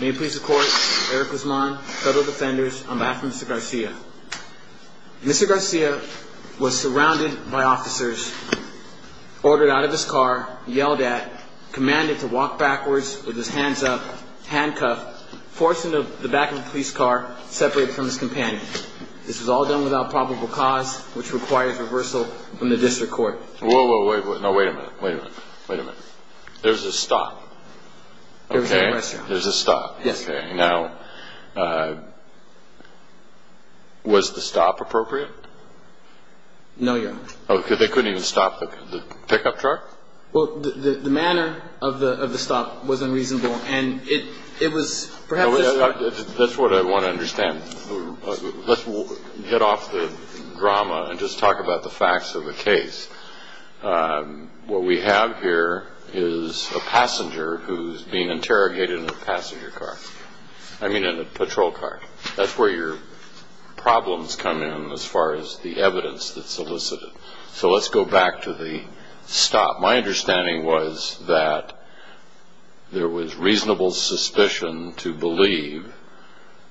May it please the court, Eric Guzman, federal defenders, I'm asking for Mr. Garcia. Mr. Garcia was surrounded by officers, ordered out of his car, yelled at, commanded to walk backwards with his hands up, handcuffed, forced into the back of a police car, separated from his companion. This was all done without probable cause, which requires reversal from the district court. Whoa, whoa, wait a minute. Wait a minute. Wait a minute. There was a stop. There was a rest stop. There was a stop. Yes, sir. Now, was the stop appropriate? No, Your Honor. Oh, because they couldn't even stop the pickup truck? Well, the manner of the stop was unreasonable, and it was perhaps... That's what I want to understand. Let's hit off the drama and just talk about the facts of the case. What we have here is a passenger who's being interrogated in a passenger car. I mean in a patrol car. That's where your problems come in as far as the evidence that's solicited. So let's go back to the stop. My understanding was that there was reasonable suspicion to believe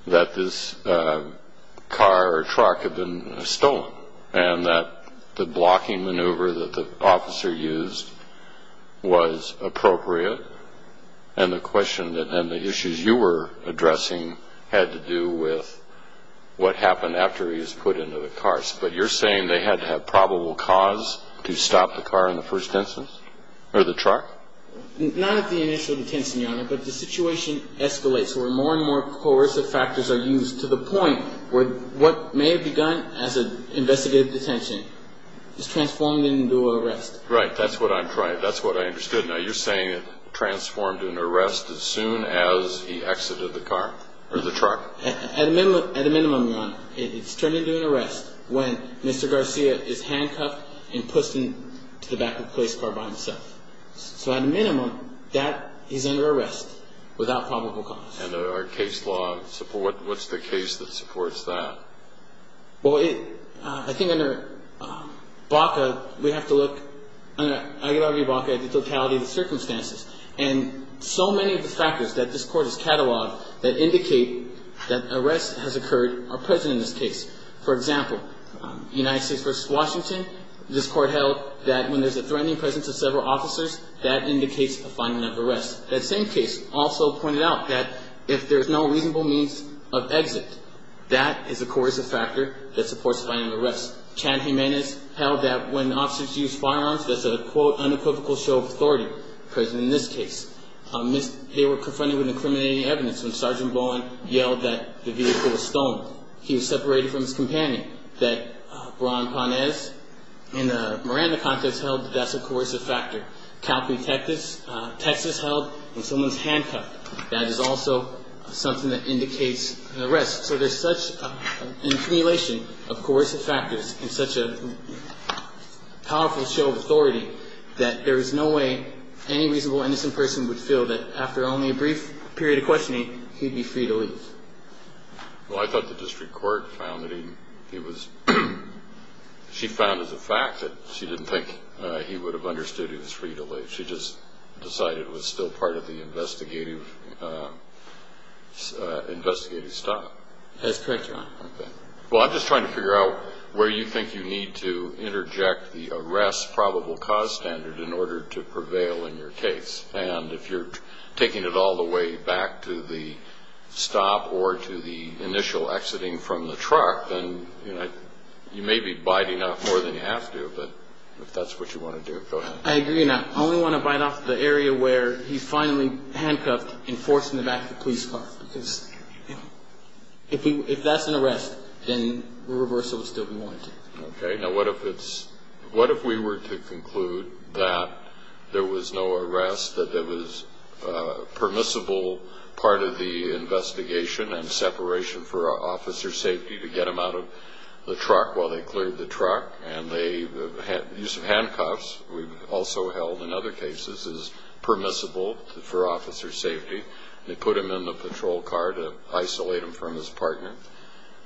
that this car or truck had been stolen and that the blocking maneuver that the officer used was appropriate, and the issues you were addressing had to do with what happened after he was put into the car. But you're saying they had to have probable cause to stop the car in the first instance, or the truck? Not at the initial detention, Your Honor, but the situation escalates where more and more coercive factors are used to the point where what may have begun as an investigative detention is transformed into an arrest. Right. That's what I'm trying to... That's what I understood. Now, you're saying it transformed into an arrest as soon as he exited the car or the truck? At a minimum, Your Honor, it's turned into an arrest when Mr. Garcia is handcuffed and pushed into the back of the police car by himself. So at a minimum, he's under arrest without probable cause. And our case law, what's the case that supports that? Well, I think under BACA, we have to look, under Aguilar v. BACA, at the totality of the circumstances. And so many of the factors that this Court has cataloged that indicate that arrests have occurred are present in this case. For example, United States v. Washington, this Court held that when there's a threatening presence of several officers, that indicates a finding of arrest. That same case also pointed out that if there's no reasonable means of exit, that is a coercive factor that supports finding of arrest. Chan Jimenez held that when officers use firearms, there's a, quote, unequivocal show of authority present in this case. They were confronted with incriminating evidence when Sergeant Bowen yelled that the vehicle was stolen. He was separated from his companion. That Ron Panez in a Miranda context held that that's a coercive factor. Captain Texas held when someone's handcuffed, that is also something that indicates an arrest. So there's such an accumulation of coercive factors and such a powerful show of authority that there is no way any reasonable innocent person would feel that after only a brief period of questioning, he'd be free to leave. Well, I thought the district court found that he was, she found as a fact that she didn't think he would have understood he was free to leave. She just decided it was still part of the investigative stop. That's correct, Your Honor. Okay. Well, I'm just trying to figure out where you think you need to interject the arrest probable cause standard in order to prevail in your case. And if you're taking it all the way back to the stop or to the initial exiting from the truck, then you may be biting off more than you have to. But if that's what you want to do, go ahead. I agree. And I only want to bite off the area where he's finally handcuffed and forced in the back of the police car. Because if that's an arrest, then reversal would still be warranted. Okay. Now, what if we were to conclude that there was no arrest, that there was permissible part of the investigation and separation for officer safety to get him out of the truck while they cleared the truck, and the use of handcuffs we've also held in other cases is permissible for officer safety. They put him in the patrol car to isolate him from his partner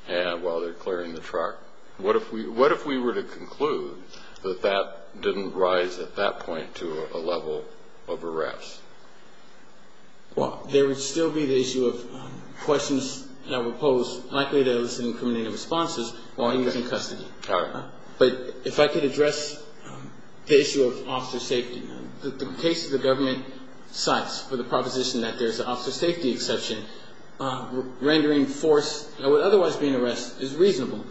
while they're clearing the truck. What if we were to conclude that that didn't rise at that point to a level of arrest? Well, there would still be the issue of questions that were posed, likely to elicit incriminating responses, while he was in custody. All right. But if I could address the issue of officer safety, the cases the government cites for the proposition that there's an officer safety exception, rendering force that would otherwise be an arrest as reasonable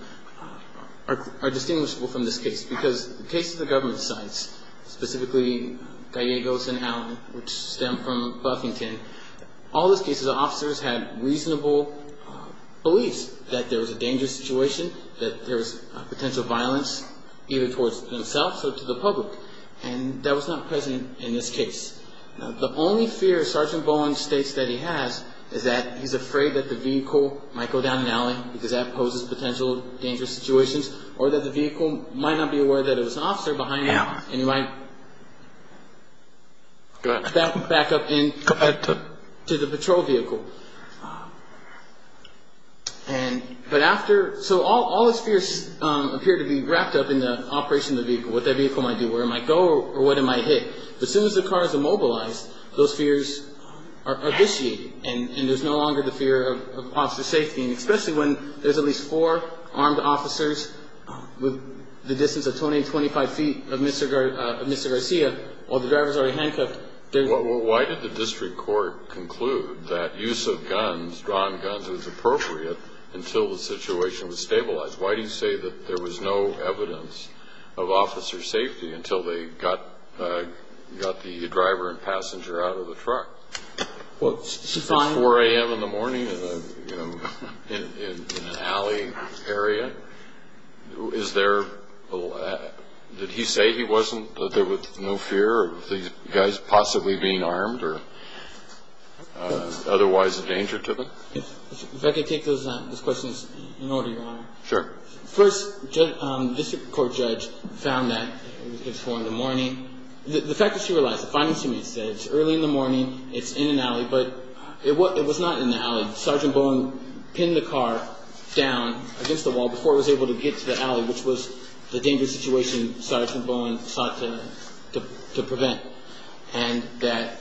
are distinguishable from this case because the cases the government cites, specifically Gallegos and Allen, which stem from Buffington, all those cases, the officers had reasonable beliefs that there was a dangerous situation, that there was potential violence either towards themselves or to the public, and that was not present in this case. The only fear Sergeant Bowen states that he has is that he's afraid that the vehicle might go down an alley because that poses potential dangerous situations, or that the vehicle might not be aware that there was an officer behind it and he might back up into the patrol vehicle. So all his fears appear to be wrapped up in the operation of the vehicle, what that vehicle might do, where it might go, or what it might hit. But as soon as the car is immobilized, those fears are vitiated, and there's no longer the fear of officer safety, and especially when there's at least four armed officers with the distance of 20, 25 feet of Mr. Garcia while the driver's already handcuffed. Why did the district court conclude that use of guns, drawn guns, was appropriate until the situation was stabilized? Why do you say that there was no evidence of officer safety until they got the driver and passenger out of the truck? It's 4 a.m. in the morning in an alley area. Did he say he wasn't, that there was no fear of these guys possibly being armed or otherwise a danger to them? If I could take those questions in order, Your Honor. Sure. First, the district court judge found that it was 4 in the morning. The fact that she realized, the findings she made said it's early in the morning, it's in an alley, but it was not in the alley. Sergeant Bowen pinned the car down against the wall before it was able to get to the alley, which was the dangerous situation Sergeant Bowen sought to prevent, and that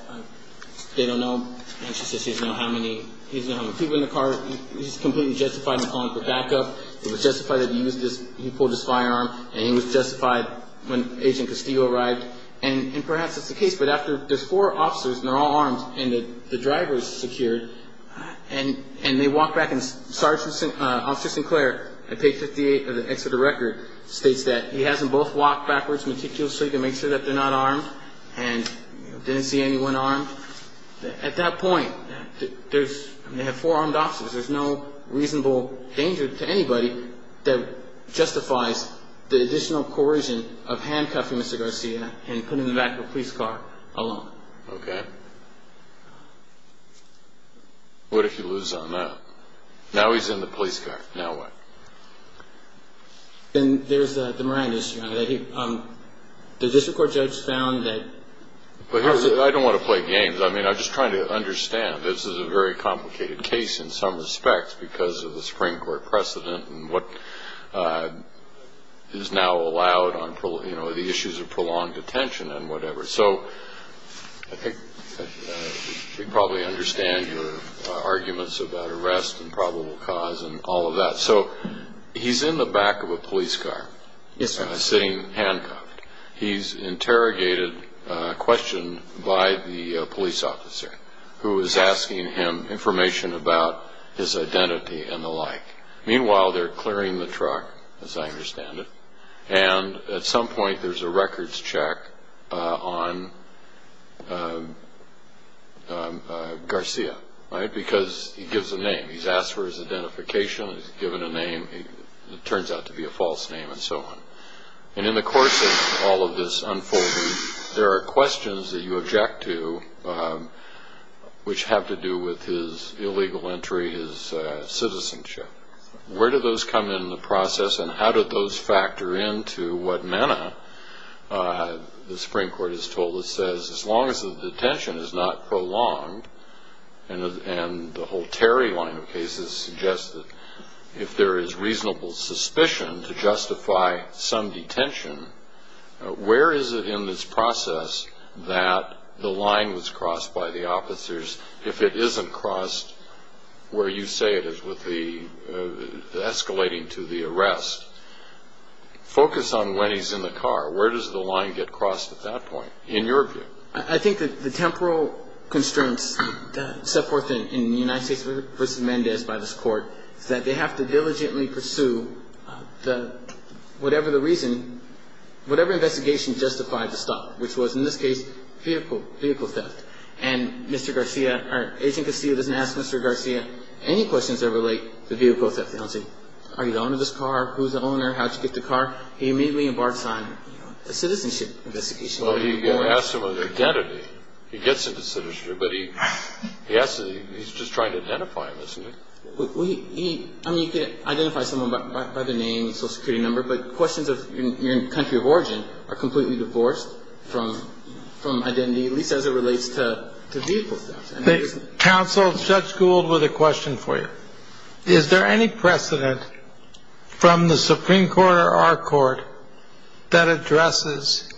they don't know. She says he doesn't know how many people in the car. He's completely justified in calling for backup. It was justified that he used his, he pulled his firearm, and he was justified when Agent Castillo arrived. And perhaps that's the case, but after there's four officers, and they're all armed, and the driver is secured, and they walk back, and Officer Sinclair at page 58 of the Exeter record states that he has them both walk backwards meticulously to make sure that they're not armed, and didn't see anyone armed. At that point, they have four armed officers. There's no reasonable danger to anybody that justifies the additional coercion of handcuffing Mr. Garcia and putting him in the back of a police car alone. Okay. What if you lose on that? Now he's in the police car. Now what? Then there's the Moran issue. The district court judge found that he was the one. I don't want to play games. I mean, I'm just trying to understand. This is a very complicated case in some respects because of the Supreme Court precedent and what is now allowed on the issues of prolonged detention and whatever. So I think we probably understand your arguments about arrest and probable cause and all of that. So he's in the back of a police car sitting handcuffed. He's interrogated, questioned by the police officer, who is asking him information about his identity and the like. Meanwhile, they're clearing the truck, as I understand it, and at some point there's a records check on Garcia because he gives a name. He's asked for his identification. He's given a name. It turns out to be a false name and so on. And in the course of all of this unfolding, there are questions that you object to, which have to do with his illegal entry, his citizenship. Where do those come in the process, and how do those factor into what Manna, the Supreme Court has told us, says as long as the detention is not prolonged and the whole Terry line of cases suggests that if there is reasonable suspicion to justify some detention, where is it in this process that the line was crossed by the officers if it isn't crossed where you say it is with the escalating to the arrest? Focus on when he's in the car. Where does the line get crossed at that point in your view? I think that the temporal constraints set forth in the United States versus Mendez by this court is that they have to diligently pursue whatever the reason, whatever investigation justified the stop, which was in this case vehicle theft. And Agent Castillo doesn't ask Mr. Garcia any questions that relate to vehicle theft. They don't say, are you the owner of this car? Who's the owner? How'd you get the car? He immediately embarks on a citizenship investigation. Well, he asked him with identity. He gets into citizenship, but he's just trying to identify him, isn't he? I mean, you can identify someone by their name, social security number, but questions of your country of origin are completely divorced from identity, at least as it relates to vehicle theft. Counsel, Judge Gould, with a question for you. Is there any precedent from the Supreme Court or our court that addresses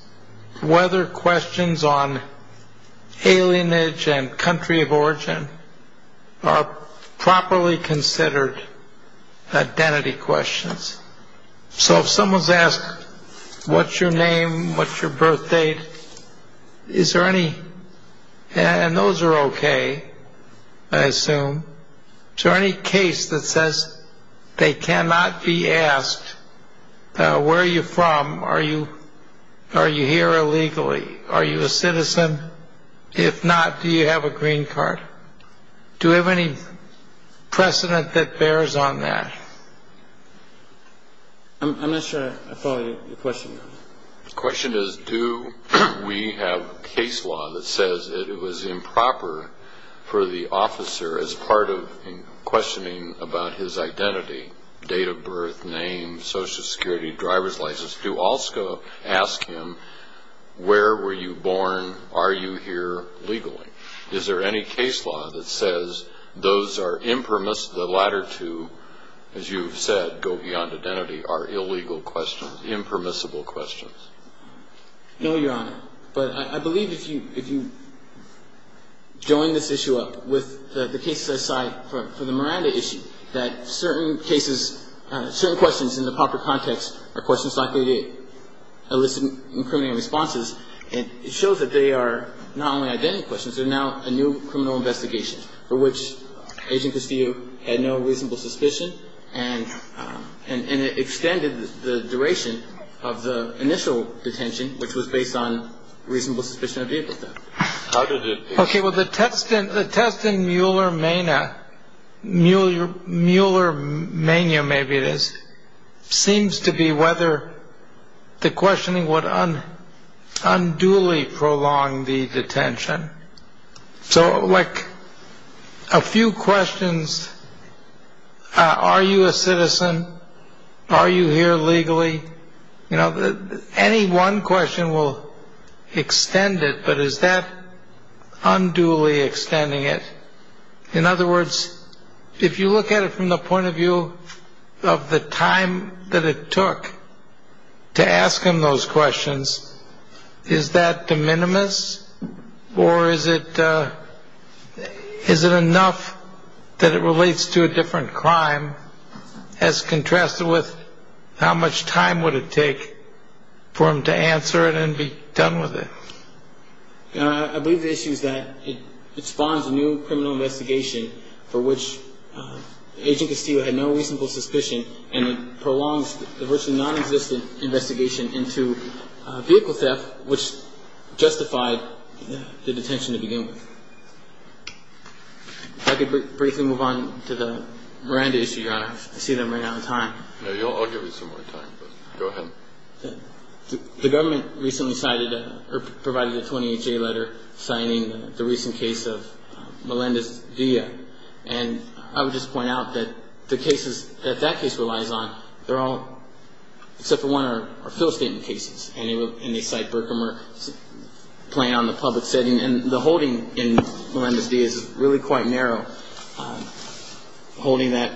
whether questions on alienage and country of origin are properly considered identity questions? So if someone's asked, what's your name, what's your birth date, is there any? And those are okay, I assume. Is there any case that says they cannot be asked, where are you from, are you here illegally, are you a citizen? If not, do you have a green card? Do we have any precedent that bears on that? I'm not sure I follow your question. The question is, do we have case law that says it was improper for the officer, as part of questioning about his identity, date of birth, name, social security, driver's license, to also ask him, where were you born, are you here legally? Is there any case law that says those are impermissible, that the latter two, as you've said, go beyond identity, are illegal questions, impermissible questions? No, Your Honor. But I believe if you join this issue up with the cases I cite for the Miranda issue, that certain cases, certain questions in the proper context are questions likely to elicit incriminating responses, and it shows that they are not only identity questions, they're now a new criminal investigation for which Agent Castillo had no reasonable suspicion and it extended the duration of the initial detention, which was based on reasonable suspicion of vehicle theft. Okay, well, the test in Mueller-Mayna, Mueller-Mayna, maybe it is, seems to be whether the questioning would unduly prolong the detention. So, like, a few questions, are you a citizen? Are you here legally? You know, any one question will extend it, but is that unduly extending it? In other words, if you look at it from the point of view of the time that it took to ask him those questions, is that de minimis or is it enough that it relates to a different crime, as contrasted with how much time would it take for him to answer it and be done with it? I believe the issue is that it spawns a new criminal investigation for which Agent Castillo had no reasonable suspicion and it prolongs the virtually nonexistent investigation into vehicle theft, which justified the detention to begin with. If I could briefly move on to the Miranda issue, Your Honor. I see that I'm running out of time. No, I'll give you some more time, but go ahead. The government recently provided a 28-J letter signing the recent case of Melendez-Dia, and I would just point out that the cases that that case relies on, they're all, except for one, are fill statement cases, and they cite Berkemer's plan on the public setting, and the holding in Melendez-Dia is really quite narrow, holding that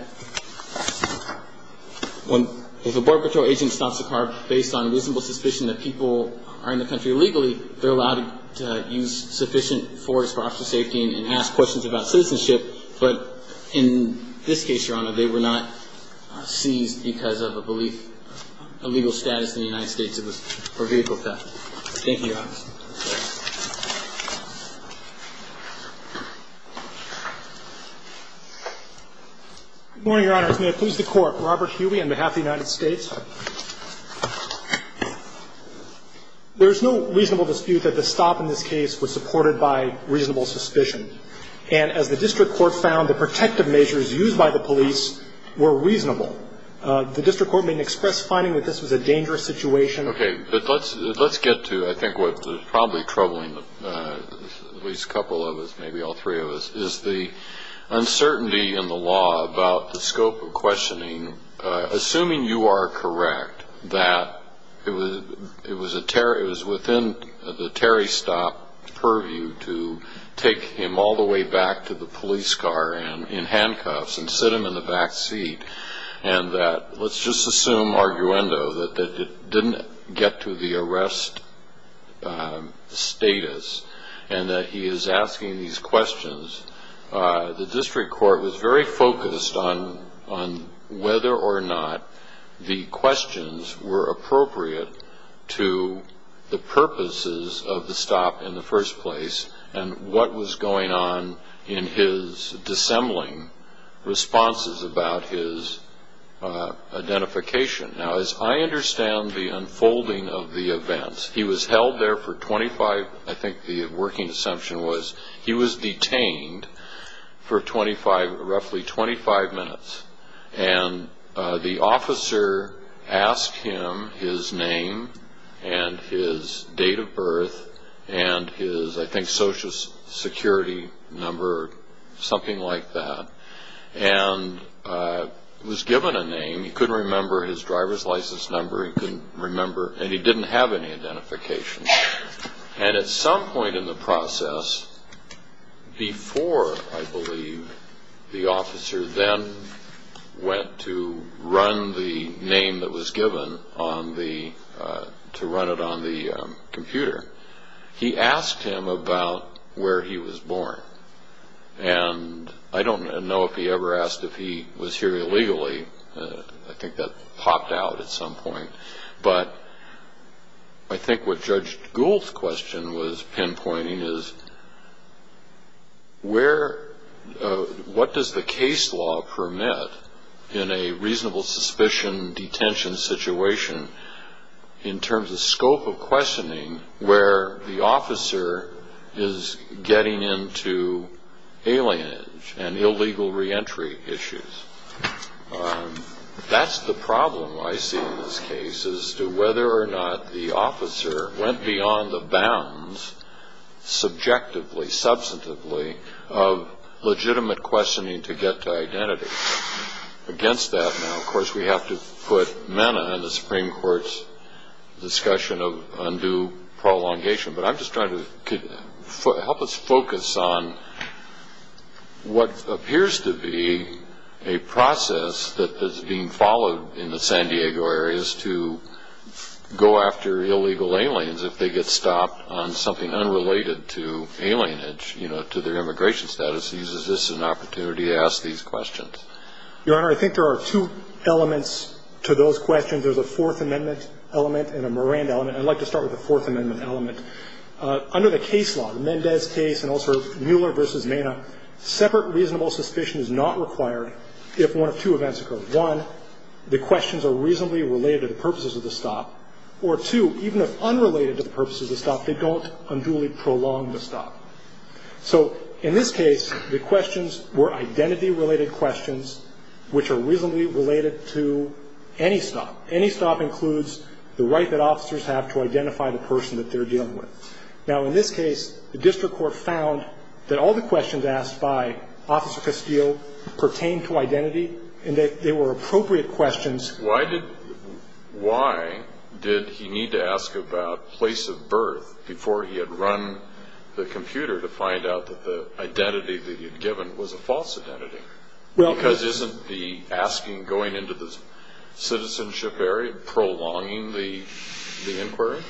if a Border Patrol agent stops a car based on reasonable suspicion that people are in the country illegally, they're allowed to use sufficient force for officer safety and ask questions about citizenship, but in this case, Your Honor, they were not seized because of a belief, a legal status in the United States it was for vehicle theft. Thank you, Your Honor. Good morning, Your Honors. May I please the Court? Robert Huey, on behalf of the United States. There is no reasonable dispute that the stop in this case was supported by reasonable suspicion, and as the district court found, the protective measures used by the police were reasonable. The district court may express finding that this was a dangerous situation. Okay, but let's get to, I think, what's probably troubling at least a couple of us, maybe all three of us, is the uncertainty in the law about the scope of questioning. Assuming you are correct that it was within the Terry stop purview to take him all the way back to the police car in handcuffs and sit him in the back seat, and that let's just assume arguendo that it didn't get to the arrest status, and that he is asking these questions, the district court was very focused on whether or not the questions were appropriate to the purposes of the stop in the first place and what was going on in his dissembling responses about his identification. Now, as I understand the unfolding of the events, he was held there for 25, I think the working assumption was, he was detained for roughly 25 minutes, and the officer asked him his name and his date of birth and his, I think, social security number or something like that, and was given a name, he couldn't remember his driver's license number, he couldn't remember, and he didn't have any identification. And at some point in the process, before, I believe, the officer then went to run the name that was given to run it on the computer, he asked him about where he was born. And I don't know if he ever asked if he was here illegally, I think that popped out at some point, but I think what Judge Gould's question was pinpointing is, what does the case law permit in a reasonable suspicion detention situation in terms of scope of questioning where the officer is getting into alienage and illegal reentry issues? That's the problem I see in this case as to whether or not the officer went beyond the bounds, subjectively, substantively, of legitimate questioning to get to identity. Against that, now, of course, we have to put Mena in the Supreme Court's discussion of undue prolongation, but I'm just trying to help us focus on what appears to be a process that is being followed in the San Diego area is to go after illegal aliens if they get stopped on something unrelated to alienage, you know, to their immigration status. Is this an opportunity to ask these questions? Your Honor, I think there are two elements to those questions. There's a Fourth Amendment element and a Moran element. I'd like to start with the Fourth Amendment element. Under the case law, the Mendez case and also Mueller v. Mena, separate reasonable suspicion is not required if one of two events occur. One, the questions are reasonably related to the purposes of the stop, or two, even if unrelated to the purposes of the stop, they don't unduly prolong the stop. So in this case, the questions were identity-related questions, which are reasonably related to any stop. Any stop includes the right that officers have to identify the person that they're dealing with. Now, in this case, the district court found that all the questions asked by Officer Castillo pertain to identity and that they were appropriate questions. Why did he need to ask about place of birth before he had run the computer to find out that the identity that he had given was a false identity? Because isn't the asking going into the citizenship area prolonging the inquiry?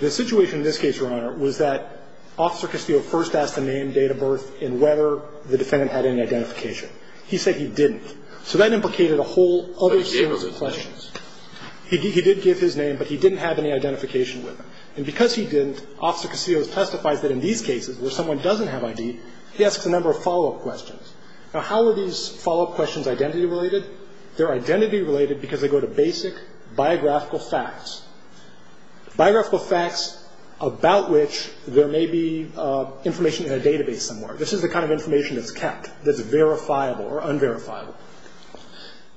The situation in this case, Your Honor, was that Officer Castillo first asked the name, date of birth, and whether the defendant had any identification. He said he didn't. So that implicated a whole other series of questions. But he gave his name. He did give his name, but he didn't have any identification with him. And because he didn't, Officer Castillo testifies that in these cases, where someone doesn't have ID, he asks a number of follow-up questions. Now, how are these follow-up questions identity related? They're identity related because they go to basic biographical facts, biographical facts about which there may be information in a database somewhere. This is the kind of information that's kept, that's verifiable or unverifiable.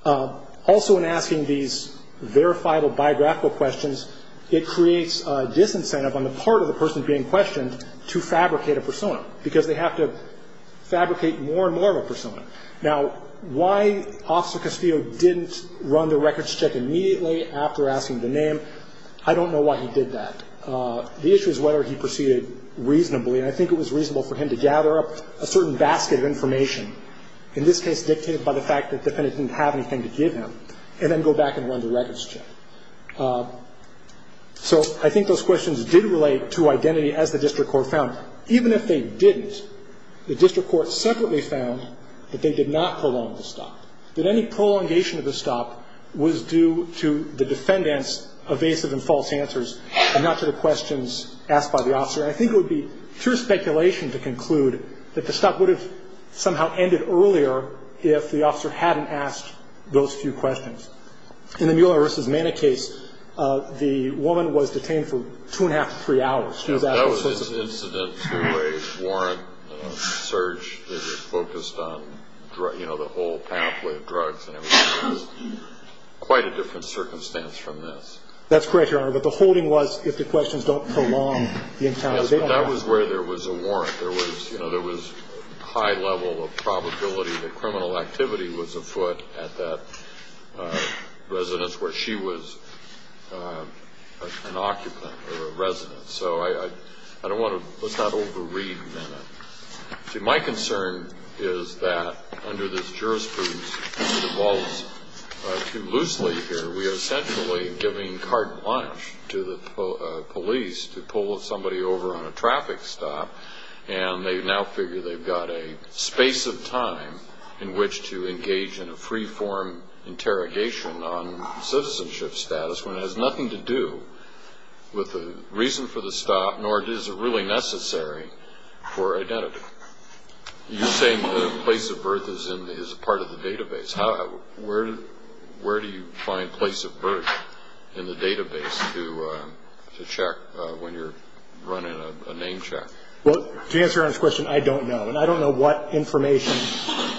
Also, in asking these verifiable biographical questions, it creates a disincentive on the part of the person being questioned to fabricate a persona, because they have to fabricate more and more of a persona. Now, why Officer Castillo didn't run the records check immediately after asking the name, I don't know why he did that. The issue is whether he proceeded reasonably. And I think it was reasonable for him to gather up a certain basket of information, in this case dictated by the fact that the defendant didn't have anything to give him, and then go back and run the records check. So I think those questions did relate to identity, as the district court found. Even if they didn't, the district court separately found that they did not prolong the stop. That any prolongation of the stop was due to the defendant's evasive and false answers, and not to the questions asked by the officer. And I think it would be true speculation to conclude that the stop would have somehow ended earlier if the officer hadn't asked those few questions. In the Mueller v. Mana case, the woman was detained for two and a half to three hours. That was an incident to a warrant search that is focused on the whole pathway of drugs, and it was quite a different circumstance from this. That's correct, Your Honor, but the holding was if the questions don't prolong the encounter. Yes, but that was where there was a warrant. There was a high level of probability that criminal activity was afoot at that residence where she was an occupant or a resident. So I don't want to – let's not over-read Mana. See, my concern is that under this jurisprudence, if it evolves too loosely here, we are essentially giving carte blanche to the police to pull somebody over on a traffic stop, and they now figure they've got a space of time in which to engage in a free-form interrogation on citizenship status when it has nothing to do with the reason for the stop, nor is it really necessary for identity. You're saying the place of birth is part of the database. Where do you find place of birth in the database to check when you're running a name check? Well, to answer Your Honor's question, I don't know, and I don't know what information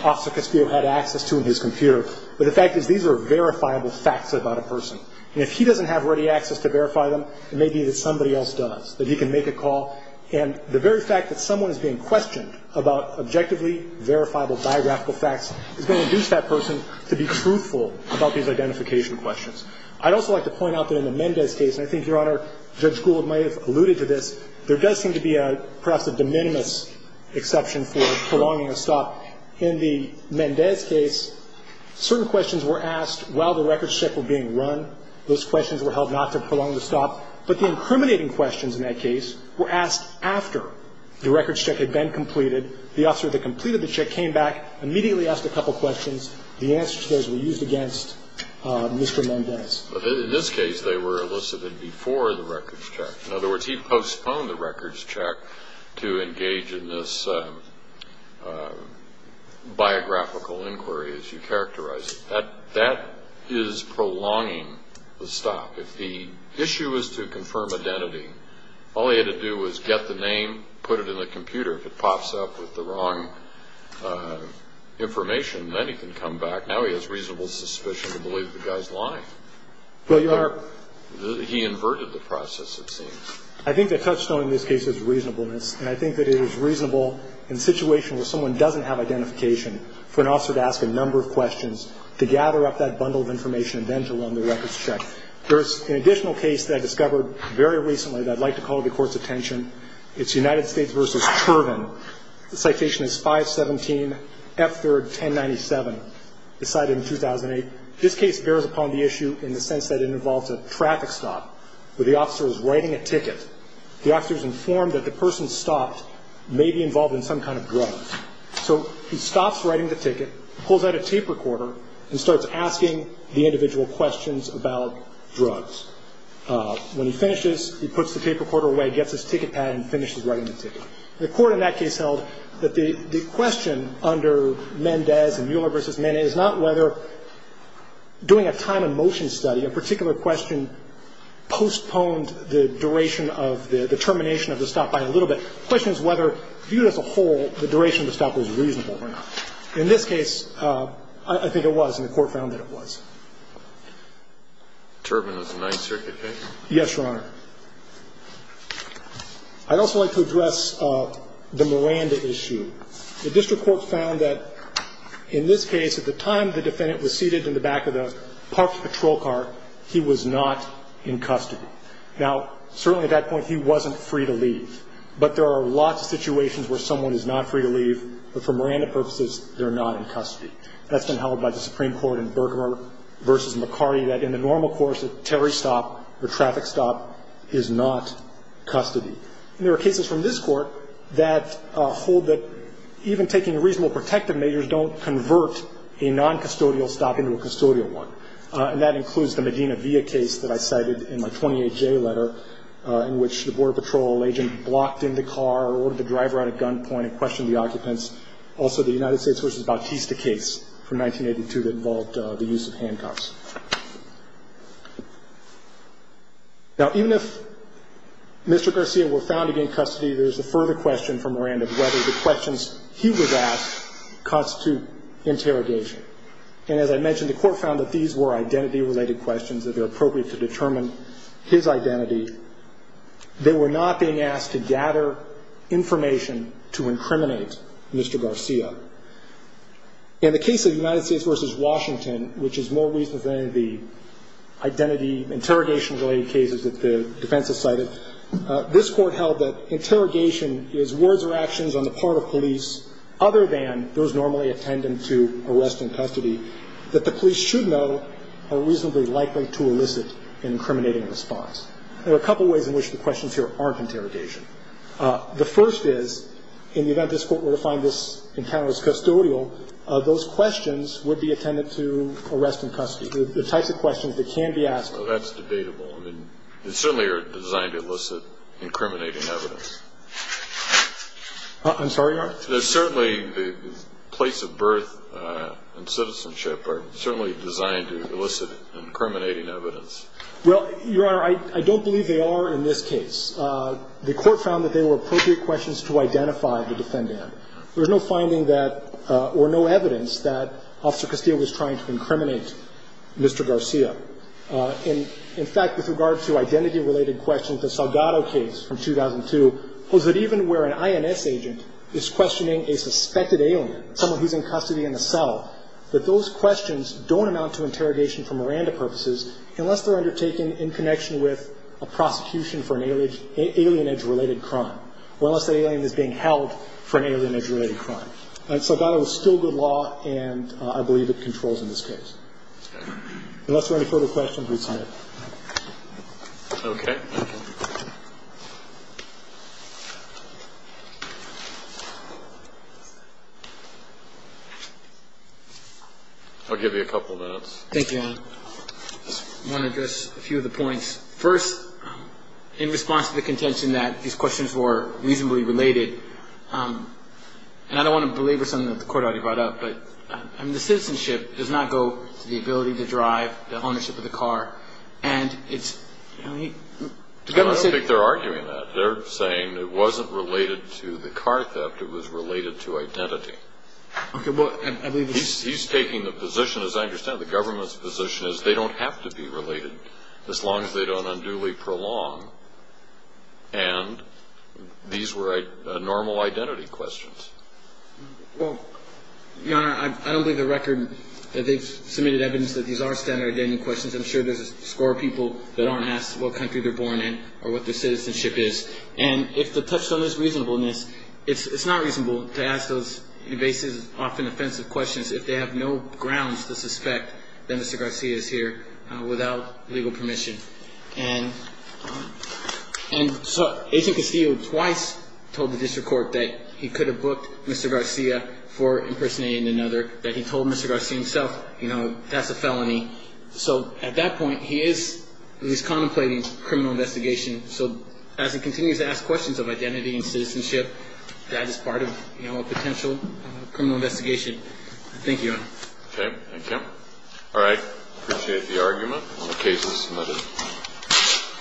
Officer Caspio had access to in his computer, but the fact is these are verifiable facts about a person. And if he doesn't have ready access to verify them, it may be that somebody else does, that he can make a call. And the very fact that someone is being questioned about objectively verifiable biographical facts is going to induce that person to be truthful about these identification questions. I'd also like to point out that in the Mendez case, and I think, Your Honor, Judge Gould might have alluded to this, there does seem to be perhaps a de minimis exception for prolonging a stop. In the Mendez case, certain questions were asked while the records check were being run. Those questions were held not to prolong the stop. But the incriminating questions in that case were asked after the records check had been completed. The officer that completed the check came back, immediately asked a couple questions. The answers to those were used against Mr. Mendez. In this case, they were elicited before the records check. In other words, he postponed the records check to engage in this biographical inquiry, as you characterize it. That is prolonging the stop. If the issue is to confirm identity, all he had to do was get the name, put it in the computer. If it pops up with the wrong information, then he can come back. Well, Your Honor. He inverted the process, it seems. I think the touchstone in this case is reasonableness. And I think that it is reasonable in a situation where someone doesn't have identification for an officer to ask a number of questions, to gather up that bundle of information and then to run the records check. There is an additional case that I discovered very recently that I'd like to call to the Court's attention. It's United States v. Turvin. The citation is 517F31097. It's cited in 2008. This case bears upon the issue in the sense that it involves a traffic stop where the officer is writing a ticket. The officer is informed that the person stopped may be involved in some kind of drug. So he stops writing the ticket, pulls out a tape recorder and starts asking the individual questions about drugs. When he finishes, he puts the tape recorder away, gets his ticket pad and finishes writing the ticket. The Court in that case held that the question under Mendez and Mueller v. Mendez is not whether doing a time and motion study, a particular question postponed the duration of the termination of the stop by a little bit. The question is whether, viewed as a whole, the duration of the stop was reasonable or not. In this case, I think it was, and the Court found that it was. Turvin is a Ninth Circuit case? Yes, Your Honor. I'd also like to address the Miranda issue. The district court found that in this case, at the time the defendant was seated in the back of the parked patrol car, he was not in custody. Now, certainly at that point he wasn't free to leave, but there are lots of situations where someone is not free to leave, but for Miranda purposes, they're not in custody. That's been held by the Supreme Court in Bergamot v. McCarty, that in the normal course a Terry stop or traffic stop is not custody. And there are cases from this Court that hold that even taking reasonable protective measures don't convert a noncustodial stop into a custodial one. And that includes the Medina Via case that I cited in my 28J letter, in which the Border Patrol agent blocked into a car or ordered the driver out at gunpoint and questioned the occupants. Also, the United States v. Bautista case from 1982 that involved the use of handcuffs. Now, even if Mr. Garcia were found to be in custody, there's a further question for Miranda, whether the questions he was asked constitute interrogation. And as I mentioned, the Court found that these were identity-related questions that are appropriate to determine his identity. They were not being asked to gather information to incriminate Mr. Garcia. In the case of the United States v. Washington, which is more recent than any of the identity, interrogation-related cases that the defense has cited, this Court held that interrogation is words or actions on the part of police, other than those normally attendant to arrest and custody, that the police should know are reasonably likely to elicit an incriminating response. There are a couple ways in which the questions here aren't interrogation. The first is, in the event this Court were to find this encounter as custodial, those questions would be attendant to arrest and custody, the types of questions that can be asked. Well, that's debatable. I mean, they certainly are designed to elicit incriminating evidence. I'm sorry, Your Honor? Certainly, the place of birth and citizenship are certainly designed to elicit incriminating evidence. Well, Your Honor, I don't believe they are in this case. The Court found that they were appropriate questions to identify the defendant. There's no finding that or no evidence that Officer Castillo was trying to incriminate Mr. Garcia. In fact, with regard to identity-related questions, the Salgado case from 2002 holds that even where an INS agent is questioning a suspected alien, someone who's in custody in a cell, that those questions don't amount to interrogation for Miranda purposes unless they're undertaken in connection with a prosecution for an alienage-related crime or unless the alien is being held for an alienage-related crime. And Salgado is still good law, and I believe it controls in this case. Unless there are any further questions, we sign it. Okay. Thank you. I'll give you a couple of minutes. Thank you, Your Honor. I just want to address a few of the points. First, in response to the contention that these questions were reasonably related, and I don't want to belabor something that the Court already brought up, but the citizenship does not go to the ability to drive, the ownership of the car. And it's, you know, the government said... I don't think they're arguing that. They're saying it wasn't related to the car theft. It was related to identity. Okay, well, I believe... He's taking the position, as I understand it, the government's position is they don't have to be related, as long as they don't unduly prolong. And these were normal identity questions. Well, Your Honor, I don't believe the record. They've submitted evidence that these are standard identity questions. I'm sure there's a score of people that aren't asked what country they're born in or what their citizenship is. And if the touchdown is reasonableness, it's not reasonable to ask those invasive, often offensive questions if they have no grounds to suspect that Mr. Garcia is here without legal permission. And Agent Castillo twice told the district court that he could have booked Mr. Garcia for impersonating another, that he told Mr. Garcia himself, you know, that's a felony. So at that point, he is contemplating criminal investigation. I don't think Mr. Garcia died as part of a potential criminal investigation. Thank you, Your Honor. Okay, thank you. All right, I appreciate the argument. The case is submitted.